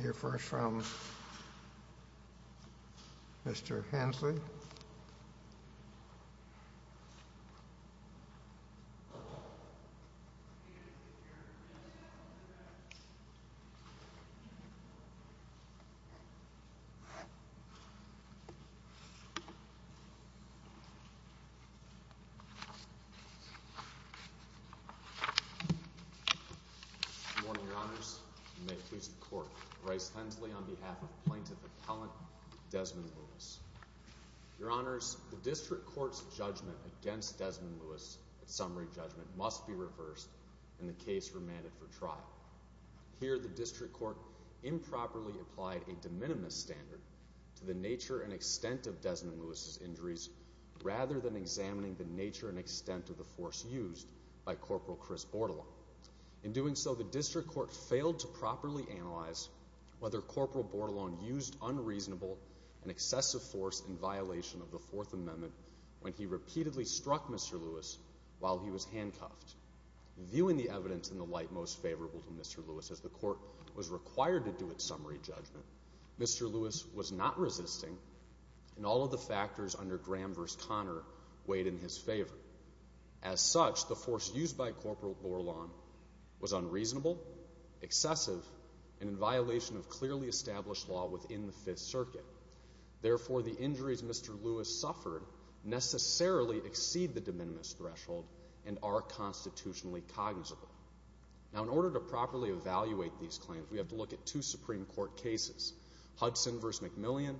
Here first from Mr. Hensley. Good morning, Your Honors. You may please the court. Bryce Hensley on behalf of Plaintiff Appellant Desmond Lewis. Your Honors, the District Court's judgment against Desmond Lewis, its summary judgment, must be reversed in the case remanded for trial. Here the District Court improperly applied a de minimis standard to the nature and extent of Desmond Lewis' injuries rather than examining the nature and extent of the force used by Corporal Chris Bordelon. In doing so, the District Court failed to properly analyze whether Corporal Bordelon used unreasonable and excessive force in violation of the Fourth Amendment when he repeatedly struck Mr. Lewis while he was handcuffed. Viewing the evidence in the light most favorable to Mr. Lewis, as the court was required to do its summary judgment, Mr. Lewis was not resisting, and all of the factors under Graham v. Connor weighed in his favor. As such, the force used by Corporal Bordelon was unreasonable, excessive, and in violation of clearly established law within the Fifth Circuit. Therefore, the injuries Mr. Lewis suffered necessarily exceed the de minimis threshold and are constitutionally cognizable. Now, in order to properly evaluate these claims, we have to look at two Supreme Court cases, Hudson v. McMillian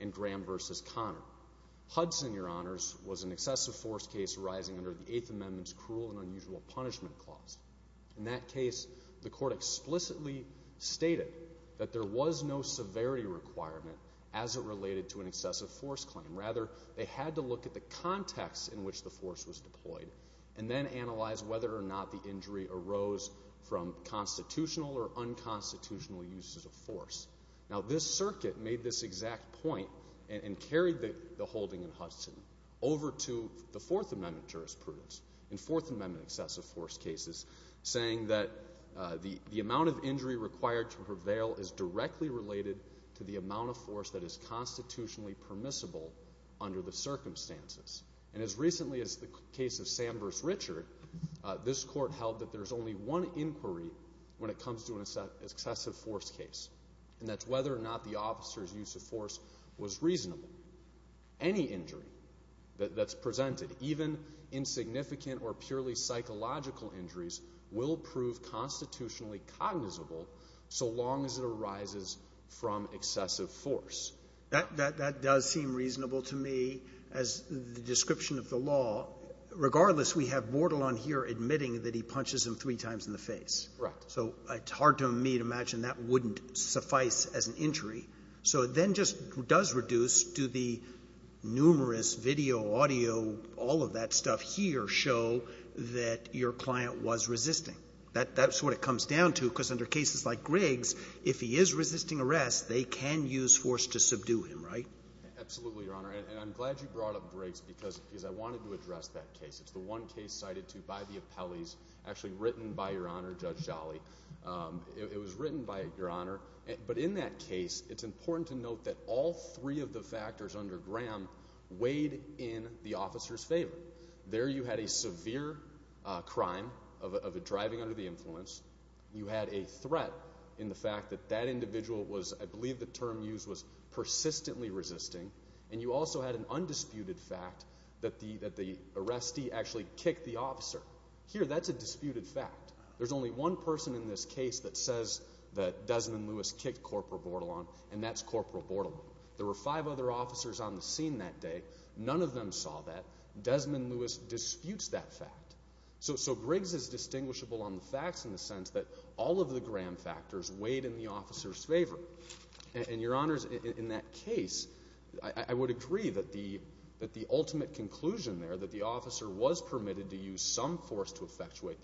and Graham v. Connor. Hudson, Your Honors, was an excessive force case arising under the Eighth Amendment's Cruel and Unusual Punishment Clause. In that case, the court explicitly stated that there was no severity requirement as it related to an excessive force claim. Rather, they had to look at the context in which the force was deployed and then analyze whether or not the injury arose from constitutional or unconstitutional uses of force. Now, this circuit made this exact point and carried the holding in Hudson over to the Fourth Amendment jurisprudence in Fourth Amendment excessive force cases, saying that the amount of injury required to prevail is directly related to the amount of force that is constitutionally permissible under the circumstances. And as recently as the case of Sam v. Richard, this court held that there's only one inquiry when it comes to an excessive force case, and that's whether or not the officer's use of force was reasonable. Any injury that's presented, even insignificant or purely psychological injuries, will prove constitutionally cognizable so long as it arises from excessive force. That does seem reasonable to me as the description of the law. Regardless, we have Bortle on here admitting that he punches him three times in the face. Correct. So it's hard to me to imagine that wouldn't suffice as an injury. So it then just does reduce to the numerous video, audio, all of that stuff here show that your client was resisting. That's what it comes down to, because under cases like Griggs, if he is resisting arrest, they can use force to subdue him, right? Absolutely, Your Honor. And I'm glad you brought up Griggs because I wanted to address that case. It's the one case cited to by the appellees, actually written by Your Honor, Judge Jolly. It was written by Your Honor. But in that case, it's important to note that all three of the factors under Graham weighed in the officer's favor. There you had a severe crime of a driving under the influence. You had a threat in the fact that that individual was, I believe the term used was persistently resisting. And you also had an undisputed fact that the arrestee actually kicked the officer. Here, that's a disputed fact. There's only one person in this case that says that Desmond Lewis kicked Corporal Bordelon, and that's Corporal Bordelon. There were five other officers on the scene that day. None of them saw that. Desmond Lewis disputes that fact. So Griggs is distinguishable on the facts in the sense that all of the Graham factors weighed in the officer's favor. And, Your Honors, in that case, I would agree that the ultimate conclusion there, that the officer was permitted to use some force to effectuate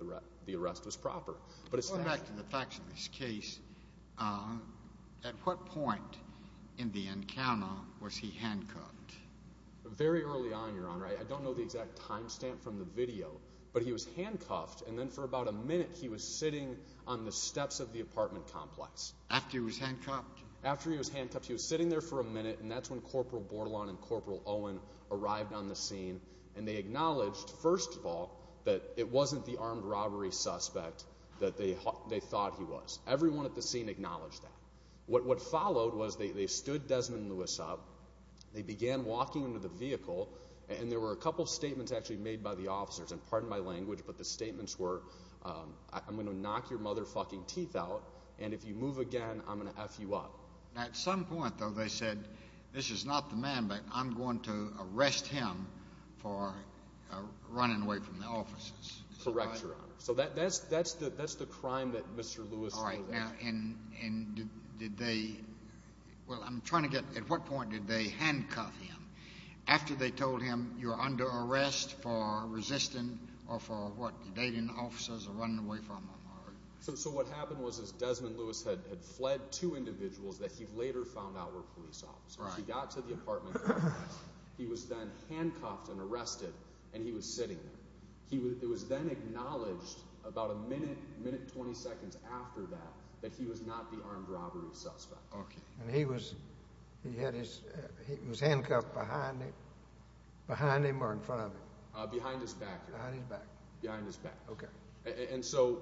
the arrest, was proper. But it's not. Going back to the facts of this case, at what point in the encounter was he handcuffed? Very early on, Your Honor. I don't know the exact time stamp from the video, but he was handcuffed, and then for about a minute he was sitting on the steps of the apartment complex. After he was handcuffed? After he was handcuffed, he was sitting there for a minute, and that's when Corporal Bordelon and Corporal Owen arrived on the scene, and they acknowledged, first of all, that it wasn't the armed robbery suspect that they thought he was. Everyone at the scene acknowledged that. What followed was they stood Desmond Lewis up, they began walking into the vehicle, and there were a couple of statements actually made by the officers, and pardon my language, but the statements were, I'm going to knock your motherfucking teeth out, and if you move again, I'm going to F you up. At some point, though, they said, this is not the man, but I'm going to arrest him for running away from the officers. Correct, Your Honor. So that's the crime that Mr. Lewis committed. All right. Now, and did they, well, I'm trying to get, at what point did they handcuff him after they told him, you're under arrest for resisting or for, what, you're dating officers or running away from them? So what happened was Desmond Lewis had fled two individuals that he later found out were police officers. He got to the apartment, he was then handcuffed and arrested, and he was sitting there. It was then acknowledged about a minute, minute and 20 seconds after that, that he was not the armed robbery suspect. Okay. And he was handcuffed behind him or in front of him? Behind his back. Behind his back. Behind his back. Okay. And so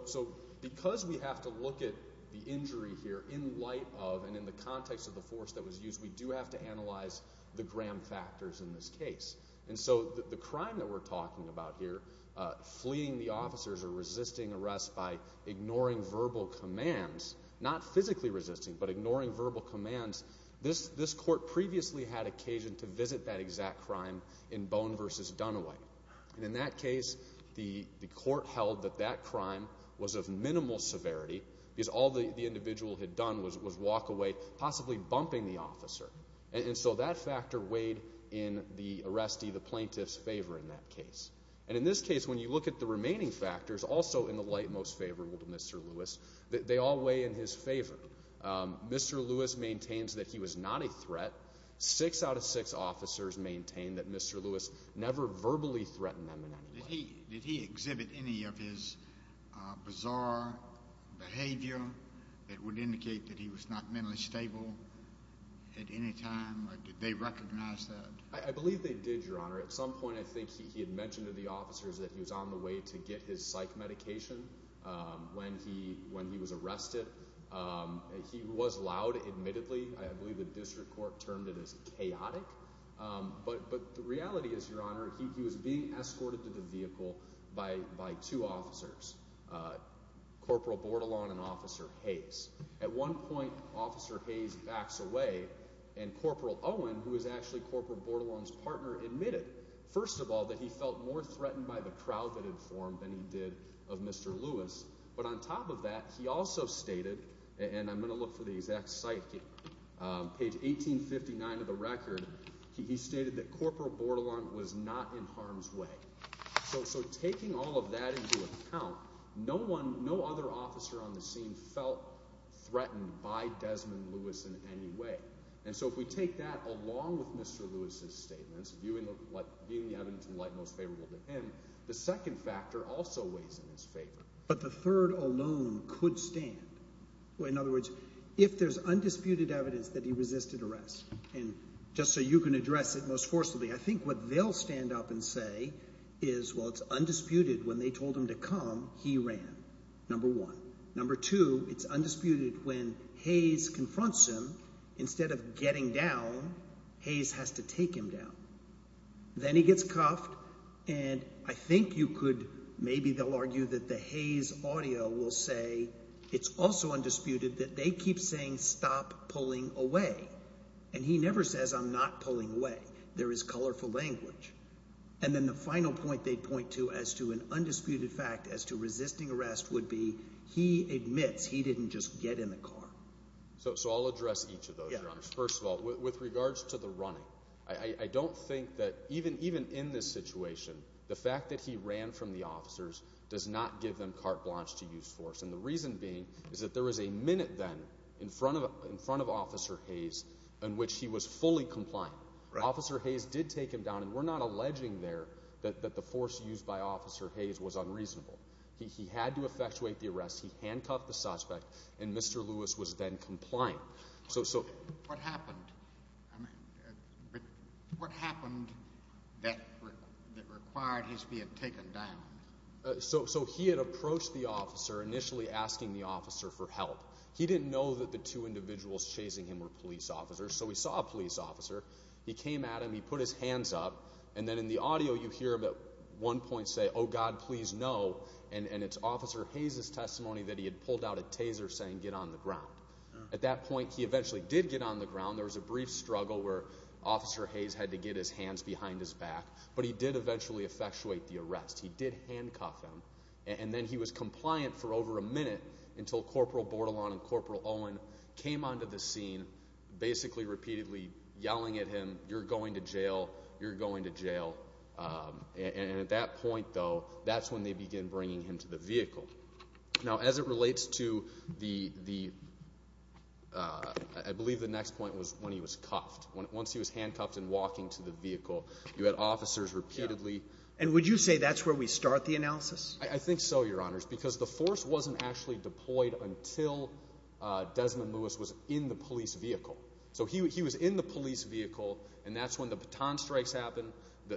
because we have to look at the injury here in light of and in the context of the force that was used, we do have to analyze the gram factors in this case. And so the crime that we're talking about here, fleeing the officers or resisting arrest by ignoring verbal commands, not physically resisting but ignoring verbal commands, this court previously had occasion to visit that exact crime in Bone v. Dunaway. And in that case, the court held that that crime was of minimal severity because all the individual had done was walk away, possibly bumping the officer. And so that factor weighed in the arrestee, the plaintiff's favor in that case. And in this case, when you look at the remaining factors, also in the light most favorable to Mr. Lewis, they all weigh in his favor. Mr. Lewis maintains that he was not a threat. Six out of six officers maintain that Mr. Lewis never verbally threatened them in any way. Did he exhibit any of his bizarre behavior that would indicate that he was not mentally stable at any time? Did they recognize that? I believe they did, Your Honor. At some point, I think he had mentioned to the officers that he was on the way to get his psych medication when he was arrested. He was loud, admittedly. I believe the district court termed it as chaotic. But the reality is, Your Honor, he was being escorted to the vehicle by two officers, Corporal Bordelon and Officer Hayes. At one point, Officer Hayes backs away, and Corporal Owen, who was actually Corporal Bordelon's partner, admitted, first of all, that he felt more threatened by the crowd that had formed than he did of Mr. Lewis. But on top of that, he also stated, and I'm going to look for the exact site, page 1859 of the record, he stated that Corporal Bordelon was not in harm's way. So taking all of that into account, no other officer on the scene felt threatened by Desmond Lewis in any way. And so if we take that along with Mr. Lewis's statements, viewing the evidence in light most favorable to him, the second factor also weighs in his favor. But the third alone could stand. In other words, if there's undisputed evidence that he resisted arrest, and just so you can address it most forcibly, I think what they'll stand up and say is, well, it's undisputed when they told him to come, he ran, number one. Number two, it's undisputed when Hayes confronts him. Instead of getting down, Hayes has to take him down. Then he gets cuffed, and I think you could, maybe they'll argue that the Hayes audio will say it's also undisputed that they keep saying stop pulling away. And he never says I'm not pulling away. There is colorful language. And then the final point they point to as to an undisputed fact as to resisting arrest would be he admits he didn't just get in the car. So I'll address each of those, Your Honor. First of all, with regards to the running, I don't think that even in this situation, the fact that he ran from the officers does not give them carte blanche to use force. And the reason being is that there was a minute then in front of Officer Hayes in which he was fully compliant. Officer Hayes did take him down, and we're not alleging there that the force used by Officer Hayes was unreasonable. He had to effectuate the arrest. What happened? What happened that required his being taken down? So he had approached the officer, initially asking the officer for help. He didn't know that the two individuals chasing him were police officers, so he saw a police officer. He came at him. He put his hands up. And then in the audio you hear him at one point say, oh, God, please no. And it's Officer Hayes' testimony that he had pulled out a taser saying get on the ground. At that point, he eventually did get on the ground. There was a brief struggle where Officer Hayes had to get his hands behind his back. But he did eventually effectuate the arrest. He did handcuff him. And then he was compliant for over a minute until Corporal Bordelon and Corporal Owen came onto the scene, basically repeatedly yelling at him, you're going to jail, you're going to jail. And at that point, though, that's when they begin bringing him to the vehicle. Now, as it relates to the, I believe the next point was when he was cuffed. Once he was handcuffed and walking to the vehicle, you had officers repeatedly. And would you say that's where we start the analysis? I think so, Your Honors, because the force wasn't actually deployed until Desmond Lewis was in the police vehicle. So he was in the police vehicle, and that's when the baton strikes happened,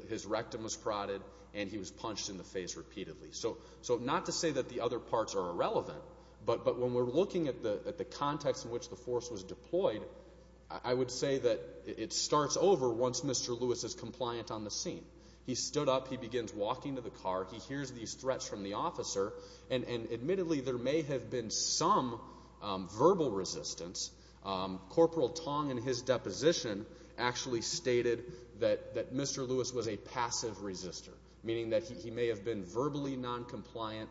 his rectum was prodded, and he was punched in the face repeatedly. So not to say that the other parts are irrelevant, but when we're looking at the context in which the force was deployed, I would say that it starts over once Mr. Lewis is compliant on the scene. He stood up, he begins walking to the car, he hears these threats from the officer, and admittedly there may have been some verbal resistance. Corporal Tong, in his deposition, actually stated that Mr. Lewis was a passive resister, meaning that he may have been verbally noncompliant,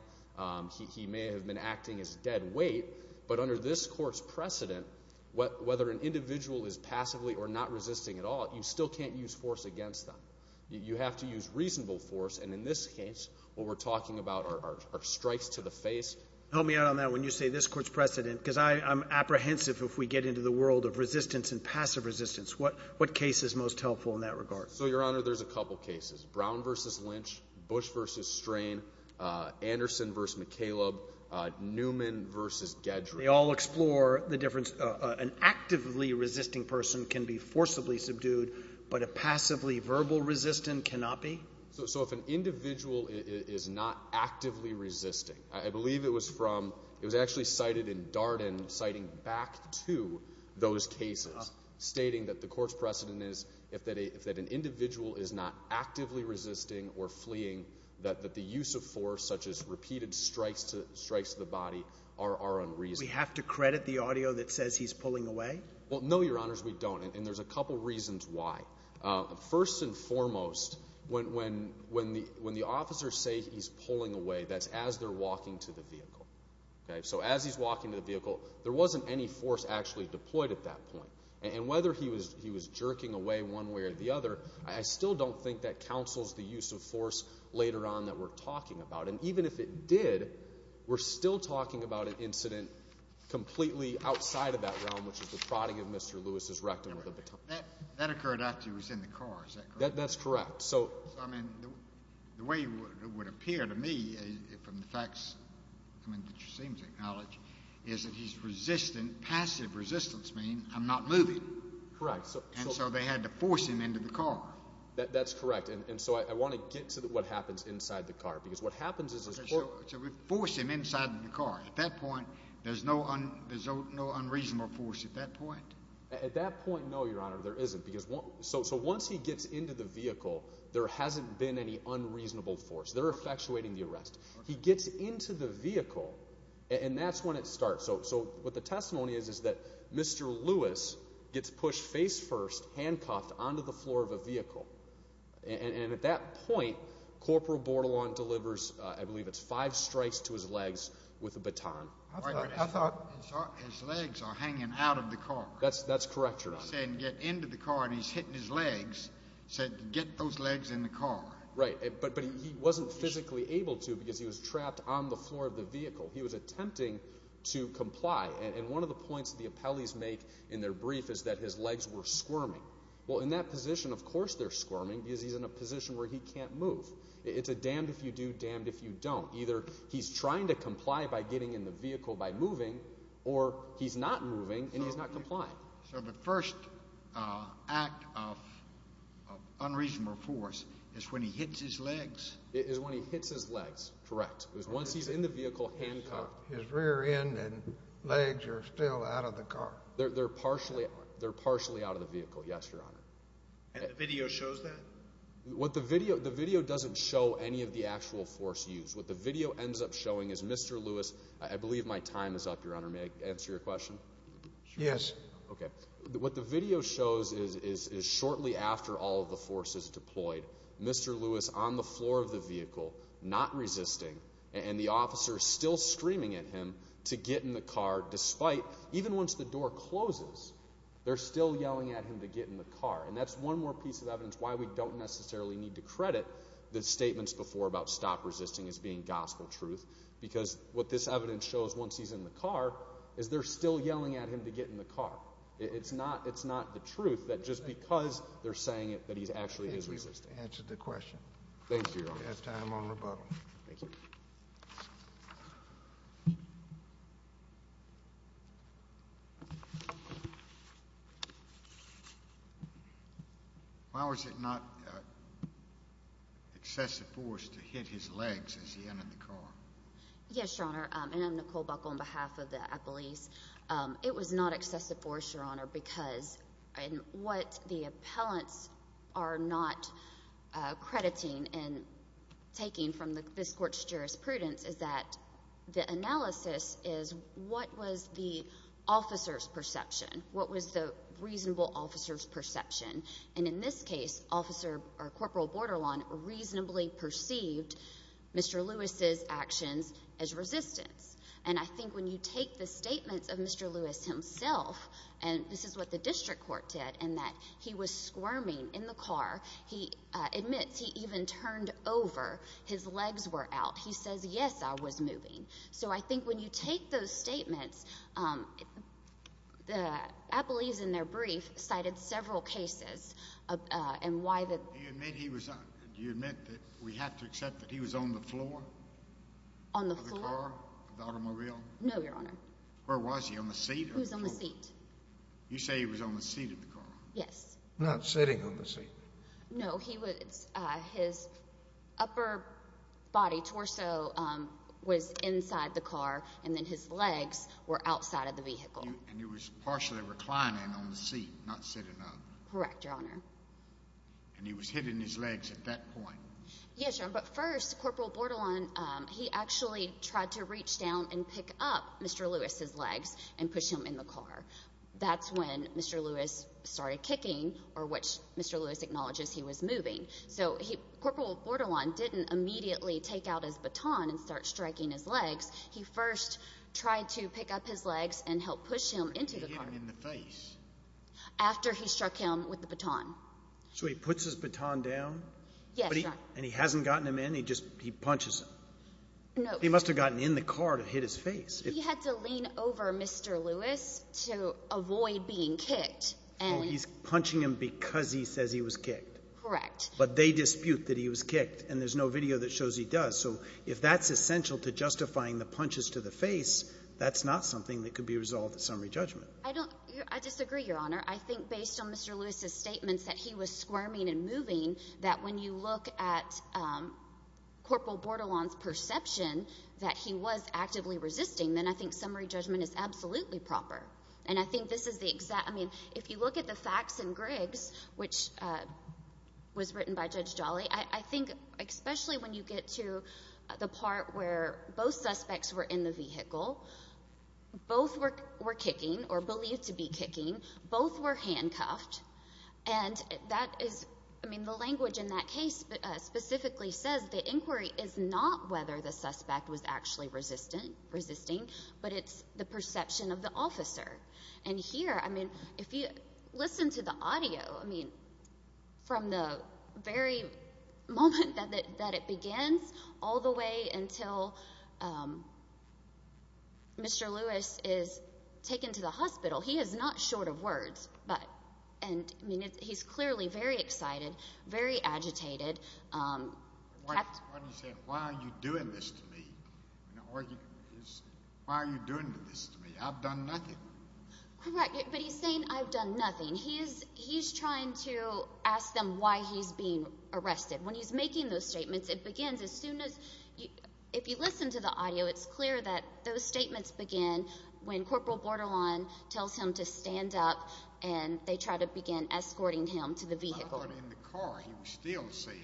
he may have been acting as dead weight, but under this court's precedent, whether an individual is passively or not resisting at all, you still can't use force against them. You have to use reasonable force, and in this case what we're talking about are strikes to the face. Help me out on that when you say this court's precedent, because I'm apprehensive if we get into the world of resistance and passive resistance. What case is most helpful in that regard? So, Your Honor, there's a couple of cases. Brown v. Lynch, Bush v. Strain, Anderson v. McCaleb, Newman v. Gedry. They all explore the difference. An actively resisting person can be forcibly subdued, but a passively verbal resistant cannot be? So if an individual is not actively resisting, I believe it was from, it was actually cited in Darden, citing back to those cases, stating that the court's precedent is if an individual is not actively resisting or fleeing, that the use of force, such as repeated strikes to the body, are unreasonable. We have to credit the audio that says he's pulling away? Well, no, Your Honors, we don't, and there's a couple reasons why. First and foremost, when the officers say he's pulling away, that's as they're walking to the vehicle. So as he's walking to the vehicle, there wasn't any force actually deployed at that point. And whether he was jerking away one way or the other, I still don't think that counsels the use of force later on that we're talking about. And even if it did, we're still talking about an incident completely outside of that realm, which is the prodding of Mr. Lewis's rectum with a baton. That occurred after he was in the car, is that correct? That's correct. So, I mean, the way it would appear to me from the facts, I mean, that you seem to acknowledge, is that he's resistant, passive resistance means I'm not moving. Correct. And so they had to force him into the car. That's correct. And so I want to get to what happens inside the car, because what happens is— So we force him inside the car. At that point, there's no unreasonable force at that point? At that point, no, Your Honor, there isn't. So once he gets into the vehicle, there hasn't been any unreasonable force. They're effectuating the arrest. He gets into the vehicle, and that's when it starts. So what the testimony is is that Mr. Lewis gets pushed face first, handcuffed, onto the floor of a vehicle. And at that point, Corporal Bordelon delivers, I believe it's five strikes to his legs with a baton. His legs are hanging out of the car. That's correct, Your Honor. He's saying get into the car, and he's hitting his legs, saying get those legs in the car. Right, but he wasn't physically able to because he was trapped on the floor of the vehicle. He was attempting to comply. And one of the points the appellees make in their brief is that his legs were squirming. Well, in that position, of course they're squirming because he's in a position where he can't move. It's a damned if you do, damned if you don't. Either he's trying to comply by getting in the vehicle by moving, or he's not moving and he's not complying. So the first act of unreasonable force is when he hits his legs? It is when he hits his legs, correct. Once he's in the vehicle, handcuffed. His rear end and legs are still out of the car. They're partially out of the vehicle, yes, Your Honor. And the video shows that? The video doesn't show any of the actual force used. What the video ends up showing is Mr. Lewis. I believe my time is up, Your Honor. May I answer your question? Yes. Okay. What the video shows is shortly after all of the force is deployed, Mr. Lewis on the floor of the vehicle, not resisting. And the officer is still screaming at him to get in the car despite, even once the door closes, they're still yelling at him to get in the car. And that's one more piece of evidence why we don't necessarily need to credit the statements before about stop resisting as being gospel truth. Because what this evidence shows once he's in the car is they're still yelling at him to get in the car. It's not the truth that just because they're saying it that he actually is resisting. I think we've answered the question. Thank you, Your Honor. We have time on rebuttal. Thank you. Thank you. Why was it not excessive force to hit his legs as he entered the car? Yes, Your Honor. And I'm Nicole Buckle on behalf of the appellees. It was not excessive force, Your Honor, because what the appellants are not crediting and taking from this court's jurisprudence is that the analysis is what was the officer's perception? What was the reasonable officer's perception? And in this case, Officer or Corporal Borderline reasonably perceived Mr. Lewis's actions as resistance. And I think when you take the statements of Mr. Lewis himself, and this is what the district court did, in that he was squirming in the car. He admits he even turned over. His legs were out. He says, yes, I was moving. So I think when you take those statements, the appellees in their brief cited several cases. Do you admit that we have to accept that he was on the floor? On the floor? Of the car? Of the automobile? No, Your Honor. Where was he? On the seat? He was on the seat. You say he was on the seat of the car? Yes. Not sitting on the seat. No, his upper body, torso, was inside the car, and then his legs were outside of the vehicle. And he was partially reclining on the seat, not sitting up. Correct, Your Honor. And he was hitting his legs at that point. Yes, Your Honor. But first, Corporal Bordelon, he actually tried to reach down and pick up Mr. Lewis's legs and push him in the car. That's when Mr. Lewis started kicking, or which Mr. Lewis acknowledges he was moving. So Corporal Bordelon didn't immediately take out his baton and start striking his legs. He first tried to pick up his legs and help push him into the car. He hit him in the face. After he struck him with the baton. So he puts his baton down. Yes, Your Honor. And he hasn't gotten him in. He just punches him. He must have gotten in the car to hit his face. He had to lean over Mr. Lewis to avoid being kicked. He's punching him because he says he was kicked. Correct. But they dispute that he was kicked, and there's no video that shows he does. So if that's essential to justifying the punches to the face, that's not something that could be resolved at summary judgment. I disagree, Your Honor. I think based on Mr. Lewis's statements that he was squirming and moving, that when you look at Corporal Bordelon's perception that he was actively resisting, then I think summary judgment is absolutely proper. And I think this is the exact—I mean, if you look at the facts in Griggs, which was written by Judge Jolly, I think especially when you get to the part where both suspects were in the vehicle, both were kicking or believed to be kicking. Both were handcuffed. And that is—I mean, the language in that case specifically says the inquiry is not whether the suspect was actually resisting, but it's the perception of the officer. And here, I mean, if you listen to the audio, I mean, from the very moment that it begins all the way until Mr. Lewis is taken to the hospital, he is not short of words. And, I mean, he's clearly very excited, very agitated. Why are you doing this to me? Why are you doing this to me? I've done nothing. Correct. But he's saying, I've done nothing. He's trying to ask them why he's being arrested. When he's making those statements, it begins as soon as—if you listen to the audio, it's clear that those statements begin when Corporal Bordelon tells him to stand up, and they try to begin escorting him to the vehicle. I thought in the car he was still saying,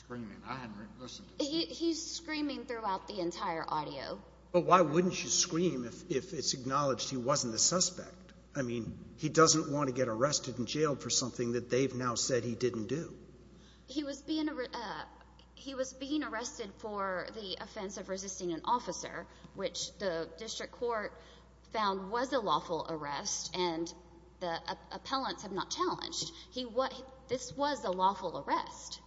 screaming. I hadn't listened to him. He's screaming throughout the entire audio. But why wouldn't you scream if it's acknowledged he wasn't the suspect? I mean, he doesn't want to get arrested and jailed for something that they've now said he didn't do. He was being arrested for the offense of resisting an officer, which the district court found was a lawful arrest, and the appellants have not challenged. This was a lawful arrest.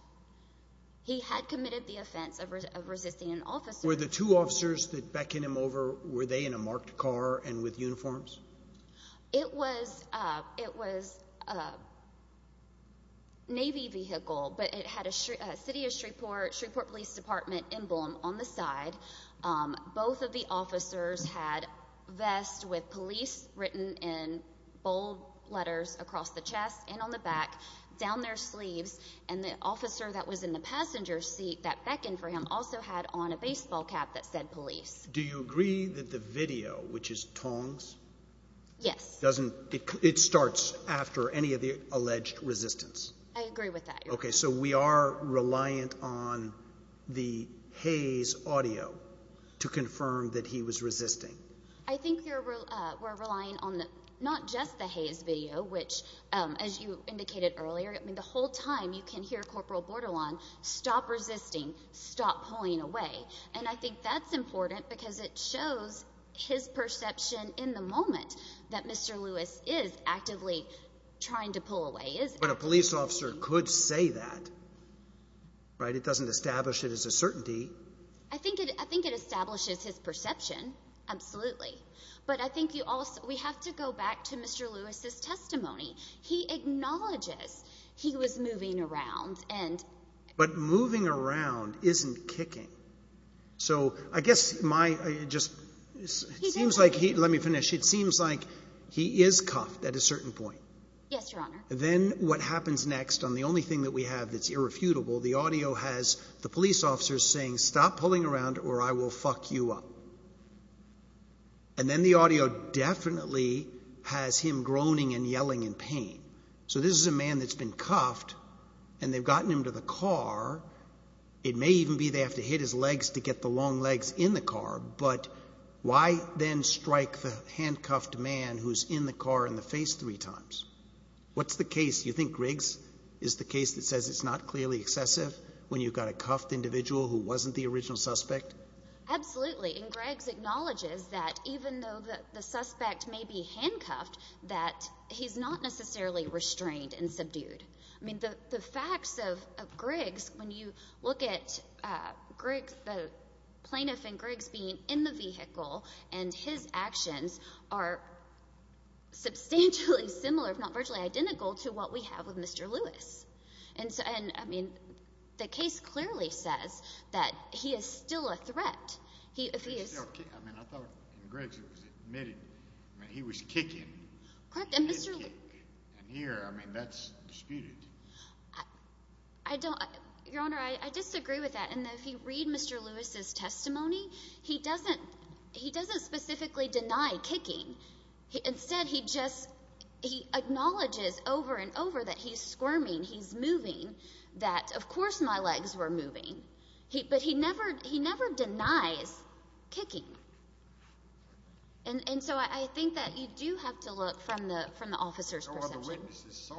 He had committed the offense of resisting an officer. Were the two officers that beckoned him over, were they in a marked car and with uniforms? It was a Navy vehicle, but it had a City of Shreveport, Shreveport Police Department emblem on the side. Both of the officers had vests with police written in bold letters across the chest and on the back, down their sleeves, and the officer that was in the passenger seat that beckoned for him also had on a baseball cap that said police. Do you agree that the video, which is Tong's? Yes. It starts after any of the alleged resistance? I agree with that. Okay. So we are reliant on the Hayes audio to confirm that he was resisting? I think we're relying on not just the Hayes video, which, as you indicated earlier, the whole time you can hear Corporal Bordelon stop resisting, stop pulling away, and I think that's important because it shows his perception in the moment that Mr. Lewis is actively trying to pull away. But a police officer could say that, right? It doesn't establish it as a certainty. I think it establishes his perception, absolutely. But I think we have to go back to Mr. Lewis's testimony. He acknowledges he was moving around. But moving around isn't kicking. So I guess my just seems like he is cuffed at a certain point. Yes, Your Honor. Then what happens next on the only thing that we have that's irrefutable, the audio has the police officer saying, stop pulling around or I will fuck you up. And then the audio definitely has him groaning and yelling in pain. So this is a man that's been cuffed, and they've gotten him to the car. It may even be they have to hit his legs to get the long legs in the car. But why then strike the handcuffed man who's in the car in the face three times? What's the case? You think Griggs is the case that says it's not clearly excessive when you've got a cuffed individual who wasn't the original suspect? Absolutely. And Griggs acknowledges that even though the suspect may be handcuffed, that he's not necessarily restrained and subdued. I mean, the facts of Griggs, when you look at Griggs, the plaintiff and Griggs being in the vehicle and his actions are substantially similar, if not virtually identical, to what we have with Mr. Lewis. And, I mean, the case clearly says that he is still a threat. I mean, I thought in Griggs it was admitted he was kicking. He didn't kick. And here, I mean, that's disputed. Your Honor, I disagree with that in that if you read Mr. Lewis' testimony, he doesn't specifically deny kicking. Instead, he just acknowledges over and over that he's squirming, he's moving, that of course my legs were moving. But he never denies kicking. And so I think that you do have to look from the officer's perception. No other witnesses saw it, apparently.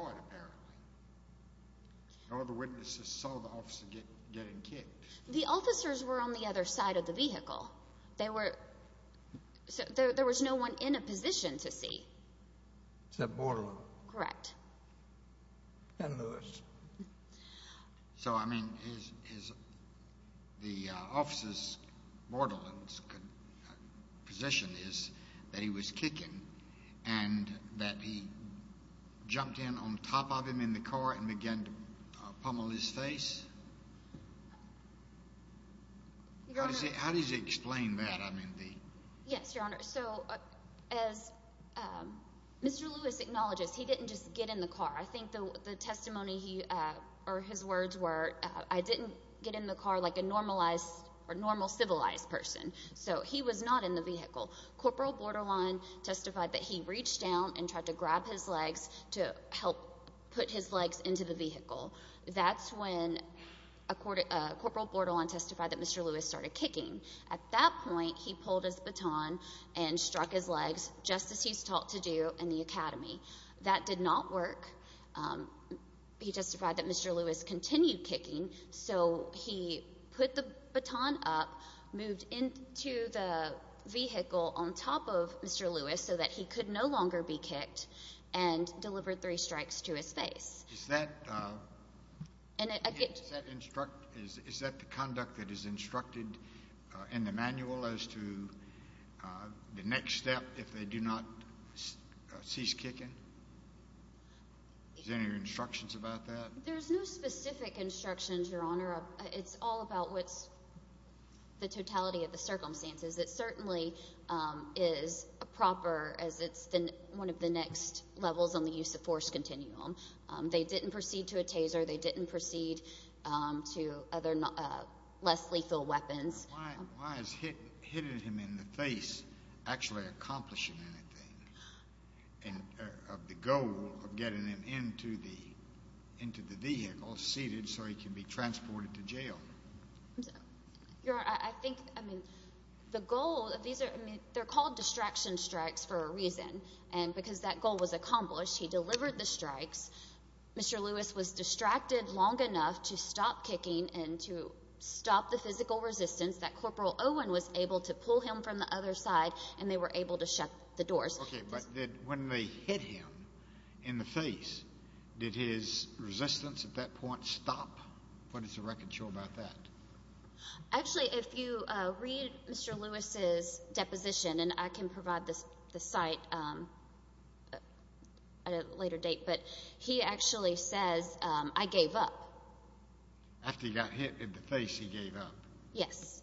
No other witnesses saw the officer getting kicked. The officers were on the other side of the vehicle. There was no one in a position to see. Except Bordelon. Correct. And Lewis. So, I mean, the officer's, Bordelon's position is that he was kicking and that he jumped in on top of him in the car and began to pummel his face? How does he explain that? Yes, Your Honor. So as Mr. Lewis acknowledges, he didn't just get in the car. I think the testimony or his words were, I didn't get in the car like a normalized or normal civilized person. So he was not in the vehicle. Corporal Bordelon testified that he reached down and tried to grab his legs to help put his legs into the vehicle. That's when Corporal Bordelon testified that Mr. Lewis started kicking. At that point, he pulled his baton and struck his legs, just as he's taught to do in the academy. That did not work. He testified that Mr. Lewis continued kicking, so he put the baton up, moved into the vehicle on top of Mr. Lewis so that he could no longer be kicked, and delivered three strikes to his face. Is that the conduct that is instructed in the manual as to the next step if they do not cease kicking? Is there any instructions about that? There's no specific instructions, Your Honor. It's all about what's the totality of the circumstances. It certainly is proper as it's one of the next levels on the use of force continuum. They didn't proceed to a taser. They didn't proceed to less lethal weapons. Why is hitting him in the face actually accomplishing anything? The goal of getting him into the vehicle, seated, so he can be transported to jail. Your Honor, I think the goal of these are called distraction strikes for a reason. Because that goal was accomplished, he delivered the strikes. Mr. Lewis was distracted long enough to stop kicking and to stop the physical resistance that Corporal Owen was able to pull him from the other side, and they were able to shut the doors. Okay, but when they hit him in the face, did his resistance at that point stop? What is the record show about that? Actually, if you read Mr. Lewis's deposition, and I can provide the site at a later date, but he actually says, I gave up. After he got hit in the face, he gave up? Yes.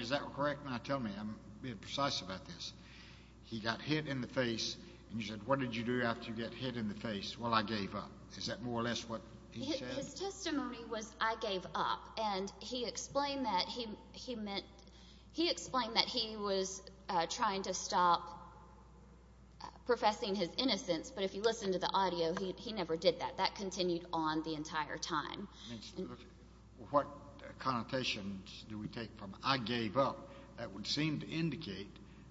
Is that correct when I tell me? I'm being precise about this. He got hit in the face, and you said, what did you do after you got hit in the face? Well, I gave up. Is that more or less what he said? His testimony was, I gave up. And he explained that he was trying to stop professing his innocence, but if you listen to the audio, he never did that. That continued on the entire time. What connotations do we take from I gave up? That would seem to indicate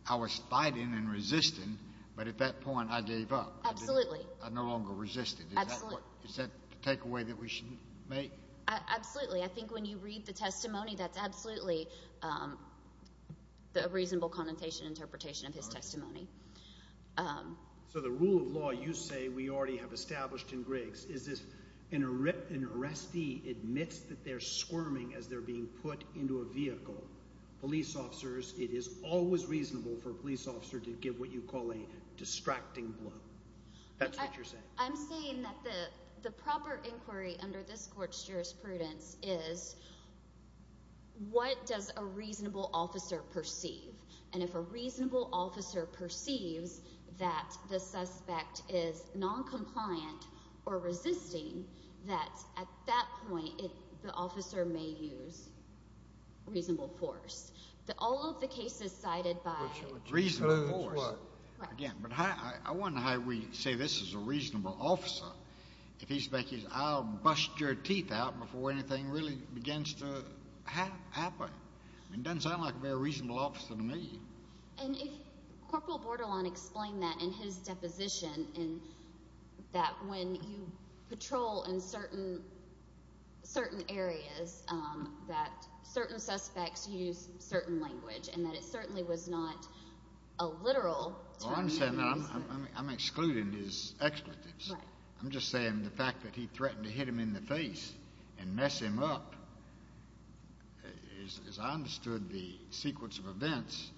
I was fighting and resisting, but at that point I gave up. Absolutely. I no longer resisted. Absolutely. Is that the takeaway that we should make? Absolutely. I think when you read the testimony, that's absolutely a reasonable connotation, interpretation of his testimony. So the rule of law you say we already have established in Griggs, is if an arrestee admits that they're squirming as they're being put into a vehicle, police officers, it is always reasonable for a police officer to give what you call a distracting blow. That's what you're saying. I'm saying that the proper inquiry under this court's jurisprudence is what does a reasonable officer perceive? And if a reasonable officer perceives that the suspect is noncompliant or resisting, that at that point the officer may use reasonable force. All of the cases cited by reasonable force. I wonder how we say this is a reasonable officer. I'll bust your teeth out before anything really begins to happen. It doesn't sound like a very reasonable officer to me. And if Corporal Bordelon explained that in his deposition, that when you patrol in certain areas that certain suspects use certain language and that it certainly was not a literal term. I'm excluding his expletives. I'm just saying the fact that he threatened to hit him in the face and mess him up, as I understood the sequence of events,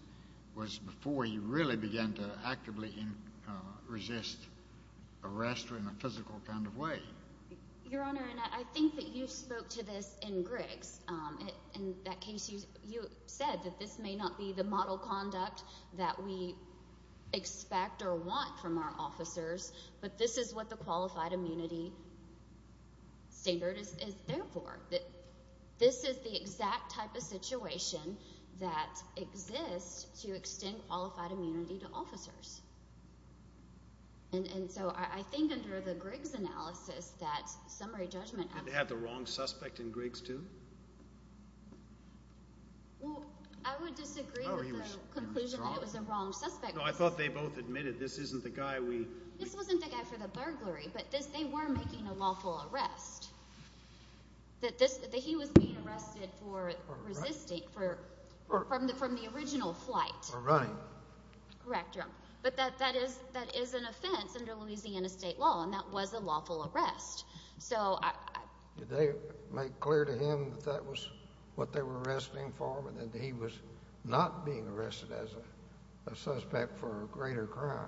was before he really began to actively resist arrest in a physical kind of way. Your Honor, I think that you spoke to this in Griggs. In that case you said that this may not be the model conduct that we expect or want from our officers, but this is what the qualified immunity standard is there for. This is the exact type of situation that exists to extend qualified immunity to officers. And so I think under the Griggs analysis that summary judgment— Did they have the wrong suspect in Griggs too? Well, I would disagree with the conclusion that it was the wrong suspect. No, I thought they both admitted this isn't the guy we— This wasn't the guy for the burglary, but they were making a lawful arrest. That he was being arrested for resisting from the original flight. For running. Correct, Your Honor. But that is an offense under Louisiana state law, and that was a lawful arrest. So I— Did they make clear to him that that was what they were arresting for, and that he was not being arrested as a suspect for a greater crime?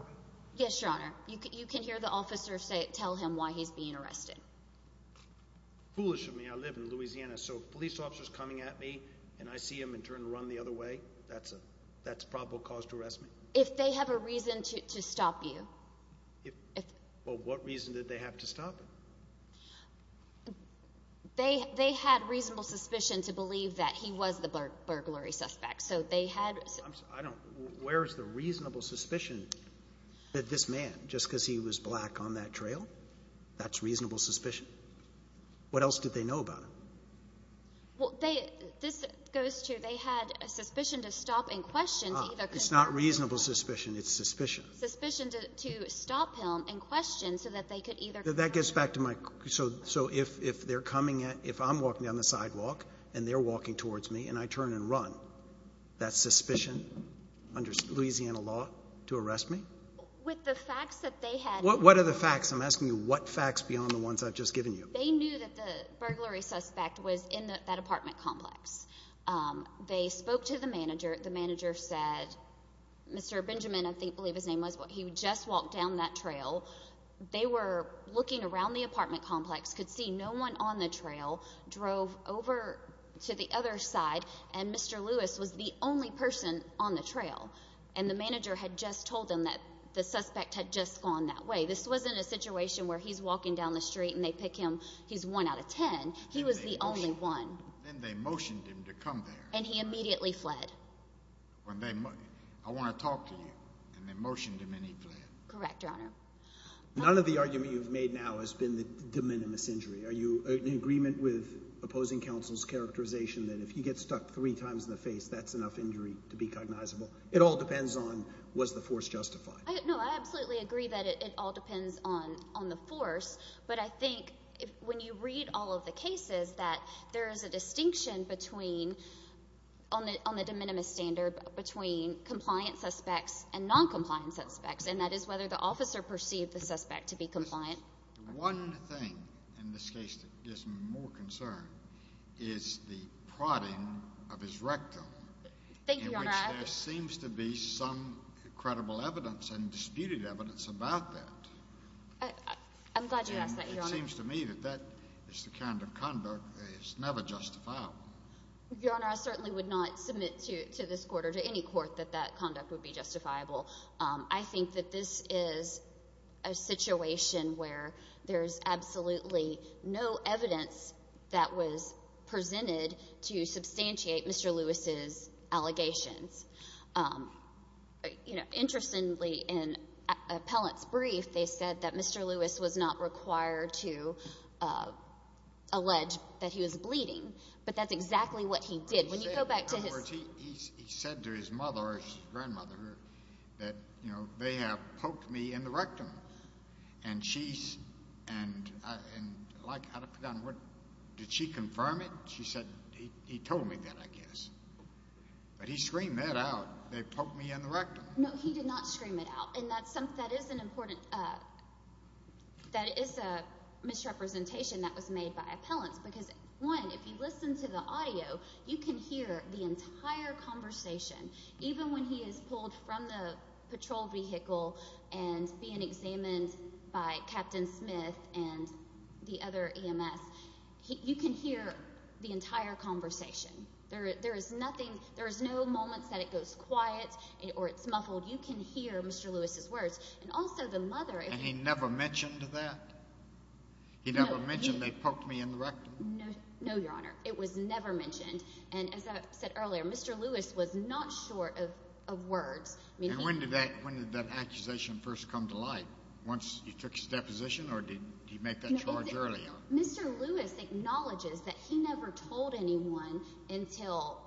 Yes, Your Honor. You can hear the officer tell him why he's being arrested. Foolish of me. I live in Louisiana. So if a police officer's coming at me and I see him and turn to run the other way, that's a probable cause to arrest me? If they have a reason to stop you. Well, what reason did they have to stop him? They had reasonable suspicion to believe that he was the burglary suspect. So they had— I'm sorry. I don't— Where is the reasonable suspicion that this man, just because he was black on that trail, that's reasonable suspicion? What else did they know about him? Well, they—this goes to they had a suspicion to stop in question to either— It's not reasonable suspicion. It's suspicion. Suspicion to stop him in question so that they could either— That gets back to my—so if they're coming at— if I'm walking down the sidewalk and they're walking towards me and I turn and run, that's suspicion under Louisiana law to arrest me? With the facts that they had— What are the facts? I'm asking you what facts beyond the ones I've just given you. They knew that the burglary suspect was in that apartment complex. They spoke to the manager. The manager said—Mr. Benjamin, I believe his name was—he just walked down that trail. They were looking around the apartment complex, could see no one on the trail, drove over to the other side, and Mr. Lewis was the only person on the trail. And the manager had just told them that the suspect had just gone that way. This wasn't a situation where he's walking down the street and they pick him. He's one out of ten. He was the only one. Then they motioned him to come there. And he immediately fled. When they—I want to talk to you. And they motioned him and he fled. Correct, Your Honor. None of the argument you've made now has been the de minimis injury. Are you in agreement with opposing counsel's characterization that if he gets stuck three times in the face, that's enough injury to be cognizable? It all depends on was the force justified. No, I absolutely agree that it all depends on the force. But I think when you read all of the cases that there is a distinction between— on the de minimis standard, between compliant suspects and noncompliant suspects, and that is whether the officer perceived the suspect to be compliant. One thing in this case that gives me more concern is the prodding of his rectum. Thank you, Your Honor. In which there seems to be some credible evidence and disputed evidence about that. I'm glad you asked that, Your Honor. And it seems to me that that is the kind of conduct that is never justifiable. Your Honor, I certainly would not submit to this court or to any court that that conduct would be justifiable. I think that this is a situation where there is absolutely no evidence that was presented to substantiate Mr. Lewis's allegations. Interestingly, in an appellant's brief, they said that Mr. Lewis was not required to allege that he was bleeding. But that's exactly what he did. When you go back to his— He said to his mother or his grandmother that, you know, they have poked me in the rectum. And she—and, like, out of the blue, did she confirm it? She said, he told me that, I guess. But he screamed that out. They poked me in the rectum. No, he did not scream it out. And that is an important—that is a misrepresentation that was made by appellants. Because, one, if you listen to the audio, you can hear the entire conversation. Even when he is pulled from the patrol vehicle and being examined by Captain Smith and the other EMS, you can hear the entire conversation. There is nothing—there is no moment that it goes quiet or it's muffled. You can hear Mr. Lewis's words. And also, the mother— And he never mentioned that? He never mentioned they poked me in the rectum? No, Your Honor. It was never mentioned. And, as I said earlier, Mr. Lewis was not short of words. And when did that accusation first come to light? Once he took his deposition? Or did he make that charge earlier? Mr. Lewis acknowledges that he never told anyone until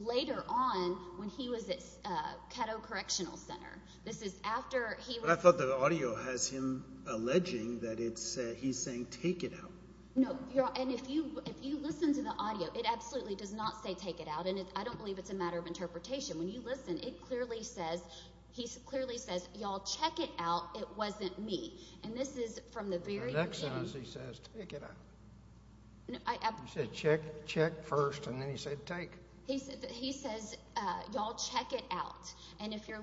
later on when he was at Caddo Correctional Center. This is after he was— But I thought the audio has him alleging that it's—he's saying, take it out. No, Your Honor. And if you listen to the audio, it absolutely does not say take it out. And I don't believe it's a matter of interpretation. When you listen, it clearly says—he clearly says, y'all check it out, it wasn't me. And this is from the very beginning. In the next sentence, he says, take it out. No, I— He said, check first, and then he said take. He says, y'all check it out. And if you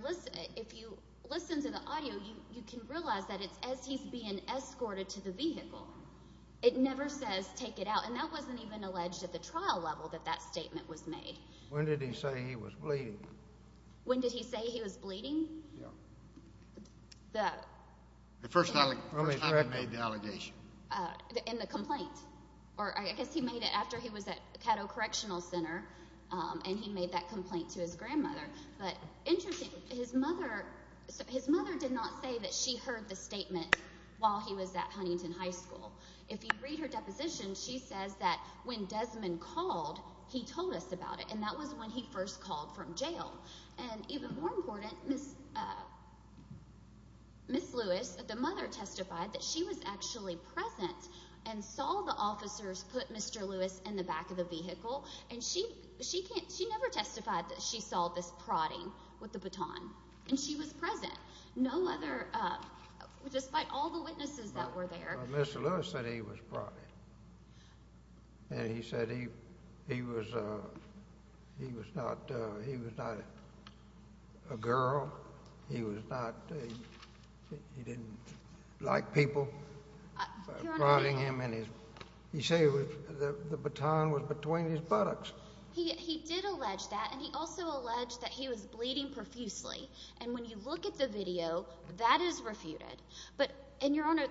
listen to the audio, you can realize that it's as he's being escorted to the vehicle. It never says take it out, and that wasn't even alleged at the trial level that that statement was made. When did he say he was bleeding? When did he say he was bleeding? Yeah. The— The first time he made the allegation. In the complaint. Or I guess he made it after he was at Caddo Correctional Center, and he made that complaint to his grandmother. But interesting, his mother—his mother did not say that she heard the statement while he was at Huntington High School. If you read her deposition, she says that when Desmond called, he told us about it, and that was when he first called from jail. And even more important, Ms. Lewis, the mother, testified that she was actually present and saw the officers put Mr. Lewis in the back of the vehicle. And she never testified that she saw this prodding with the baton, and she was present, no other—despite all the witnesses that were there. Mr. Lewis said he was prodding, and he said he was not—he was not a girl. He was not—he didn't like people prodding him in his— He said the baton was between his buttocks. He did allege that, and he also alleged that he was bleeding profusely. And when you look at the video, that is refuted. But—and, Your Honor,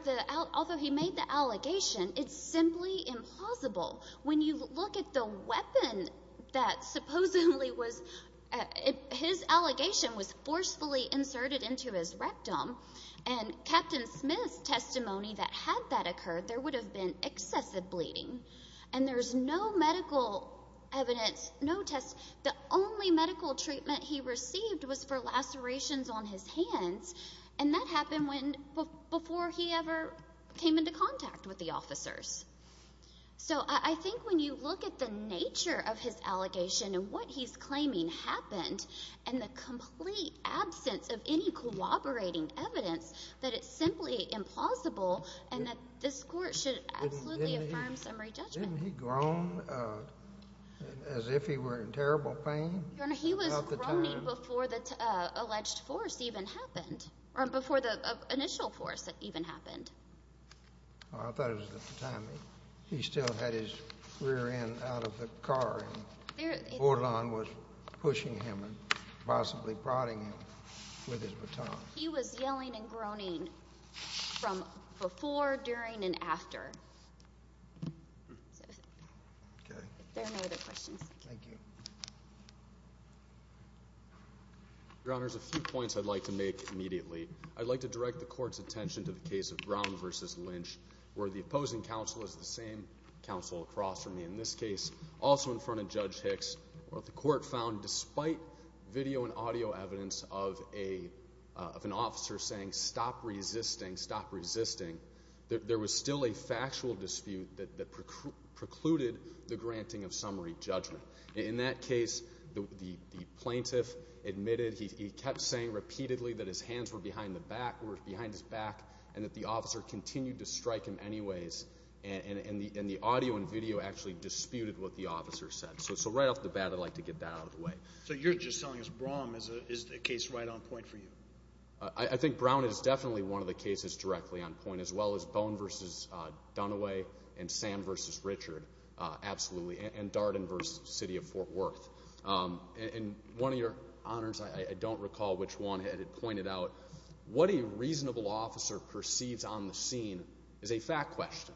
although he made the allegation, it's simply impossible. When you look at the weapon that supposedly was—his allegation was forcefully inserted into his rectum. And Captain Smith's testimony that had that occurred, there would have been excessive bleeding. And there's no medical evidence, no test—the only medical treatment he received was for lacerations on his hands. And that happened when—before he ever came into contact with the officers. So I think when you look at the nature of his allegation and what he's claiming happened, and the complete absence of any cooperating evidence, that it's simply implausible, and that this Court should absolutely affirm summary judgment. Didn't he groan as if he were in terrible pain? Your Honor, he was groaning before the alleged force even happened—before the initial force even happened. I thought it was at the time he still had his rear end out of the car, and Orlon was pushing him and possibly prodding him with his baton. He was yelling and groaning from before, during, and after. Okay. If there are no other questions. Thank you. Your Honor, there's a few points I'd like to make immediately. I'd like to direct the Court's attention to the case of Brown v. Lynch, where the opposing counsel is the same counsel across from me. In this case, also in front of Judge Hicks, what the Court found, despite video and audio evidence of an officer saying, stop resisting, stop resisting, there was still a factual dispute that precluded the granting of summary judgment. In that case, the plaintiff admitted— repeatedly—that his hands were behind his back, and that the officer continued to strike him anyways, and the audio and video actually disputed what the officer said. So right off the bat, I'd like to get that out of the way. So you're just telling us Brown is the case right on point for you? I think Brown is definitely one of the cases directly on point, as well as Bone v. Dunaway and Sam v. Richard, absolutely, and Darden v. City of Fort Worth. And one of your honors, I don't recall which one, had it pointed out, what a reasonable officer perceives on the scene is a fact question.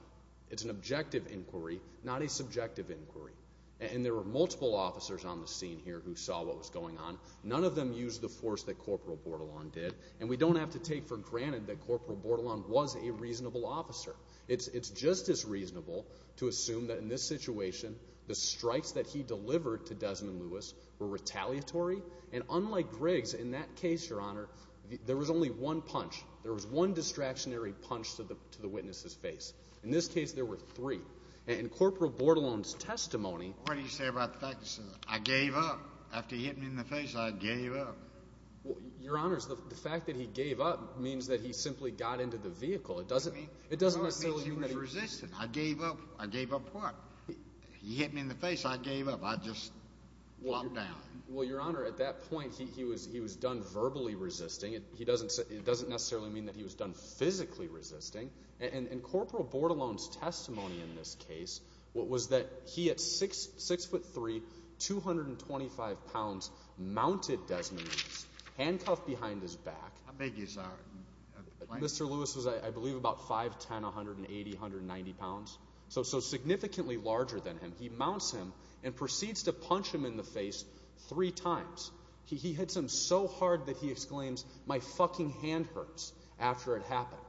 It's an objective inquiry, not a subjective inquiry. And there were multiple officers on the scene here who saw what was going on. None of them used the force that Corporal Bortolon did, and we don't have to take for granted that Corporal Bortolon was a reasonable officer. It's just as reasonable to assume that in this situation, the strikes that he delivered to Desmond Lewis were retaliatory. And unlike Riggs, in that case, Your Honor, there was only one punch. There was one distractionary punch to the witness's face. In this case, there were three. And in Corporal Bortolon's testimony— What do you say about the fact that he says, I gave up? After he hit me in the face, I gave up. Your honors, the fact that he gave up means that he simply got into the vehicle. It doesn't necessarily mean that he— He hit me in the face, I gave up. I just walked down. Well, Your Honor, at that point, he was done verbally resisting. It doesn't necessarily mean that he was done physically resisting. In Corporal Bortolon's testimony in this case, what was that he, at 6'3", 225 pounds, mounted Desmond Lewis, handcuffed behind his back. How big is— Mr. Lewis was, I believe, about 5'10", 180, 190 pounds. So significantly larger than him. He mounts him and proceeds to punch him in the face three times. He hits him so hard that he exclaims, my fucking hand hurts, after it happened.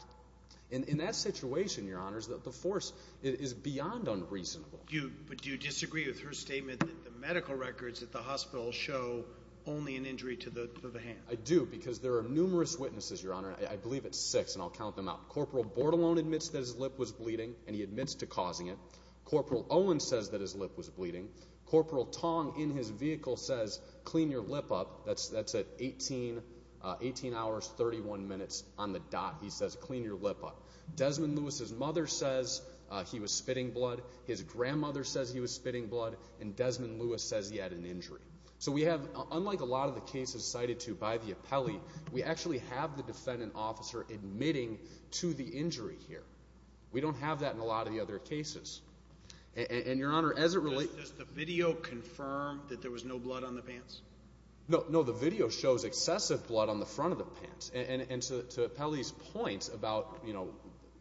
In that situation, Your Honors, the force is beyond unreasonable. Do you disagree with her statement that the medical records at the hospital show only an injury to the hand? I do, because there are numerous witnesses, Your Honor. I believe it's six, and I'll count them out. Corporal Bortolon admits that his lip was bleeding, and he admits to causing it. Corporal Owen says that his lip was bleeding. Corporal Tong, in his vehicle, says, clean your lip up. That's at 18 hours, 31 minutes on the dot. He says, clean your lip up. Desmond Lewis's mother says he was spitting blood. His grandmother says he was spitting blood. And Desmond Lewis says he had an injury. So we have, unlike a lot of the cases cited to by the appellee, we actually have the defendant officer admitting to the injury here. We don't have that in a lot of the other cases. And, Your Honor, as it relates to the video confirm that there was no blood on the pants? No, the video shows excessive blood on the front of the pants. And to appellee's point about, you know,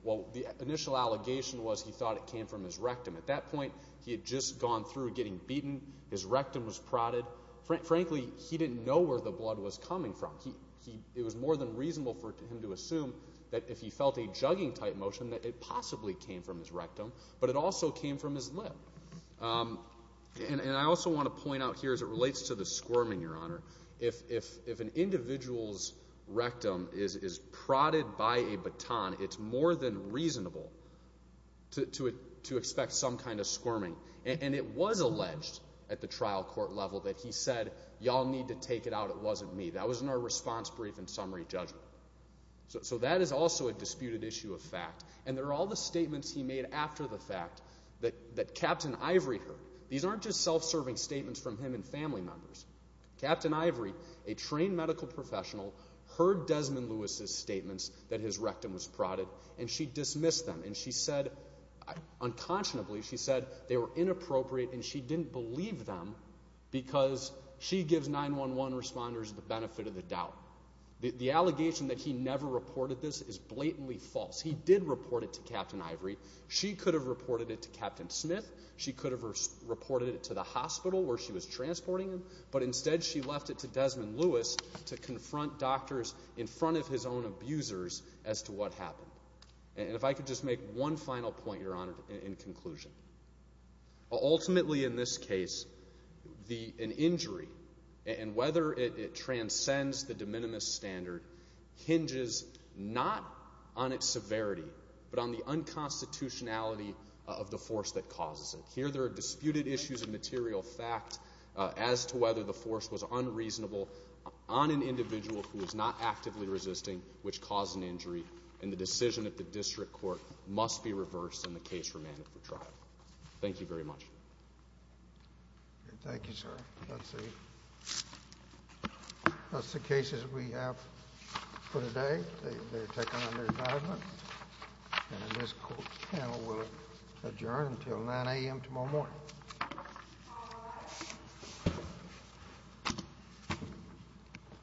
well, the initial allegation was he thought it came from his rectum. At that point, he had just gone through getting beaten. His rectum was prodded. But, frankly, he didn't know where the blood was coming from. It was more than reasonable for him to assume that if he felt a jugging-type motion, that it possibly came from his rectum, but it also came from his lip. And I also want to point out here, as it relates to the squirming, Your Honor, if an individual's rectum is prodded by a baton, it's more than reasonable to expect some kind of squirming. And it was alleged at the trial court level that he said, y'all need to take it out, it wasn't me. That was in our response brief and summary judgment. So that is also a disputed issue of fact. And there are all the statements he made after the fact that Captain Ivory heard. These aren't just self-serving statements from him and family members. Captain Ivory, a trained medical professional, heard Desmond Lewis's statements that his rectum was prodded, and she dismissed them. And she said, unconscionably, she said they were inappropriate, and she didn't believe them because she gives 911 responders the benefit of the doubt. The allegation that he never reported this is blatantly false. He did report it to Captain Ivory. She could have reported it to Captain Smith. She could have reported it to the hospital where she was transporting him, but instead she left it to Desmond Lewis to confront doctors in front of his own abusers as to what happened. And if I could just make one final point, Your Honor, in conclusion. Ultimately, in this case, an injury, and whether it transcends the de minimis standard, hinges not on its severity but on the unconstitutionality of the force that causes it. Here there are disputed issues of material fact as to whether the force was unreasonable on an individual who was not actively resisting which caused an injury, and the decision at the district court must be reversed and the case remanded for trial. Thank you very much. Thank you, sir. That's the cases we have for today. They're taken under advisement, and this court panel will adjourn until 9 a.m. tomorrow morning. Thank you.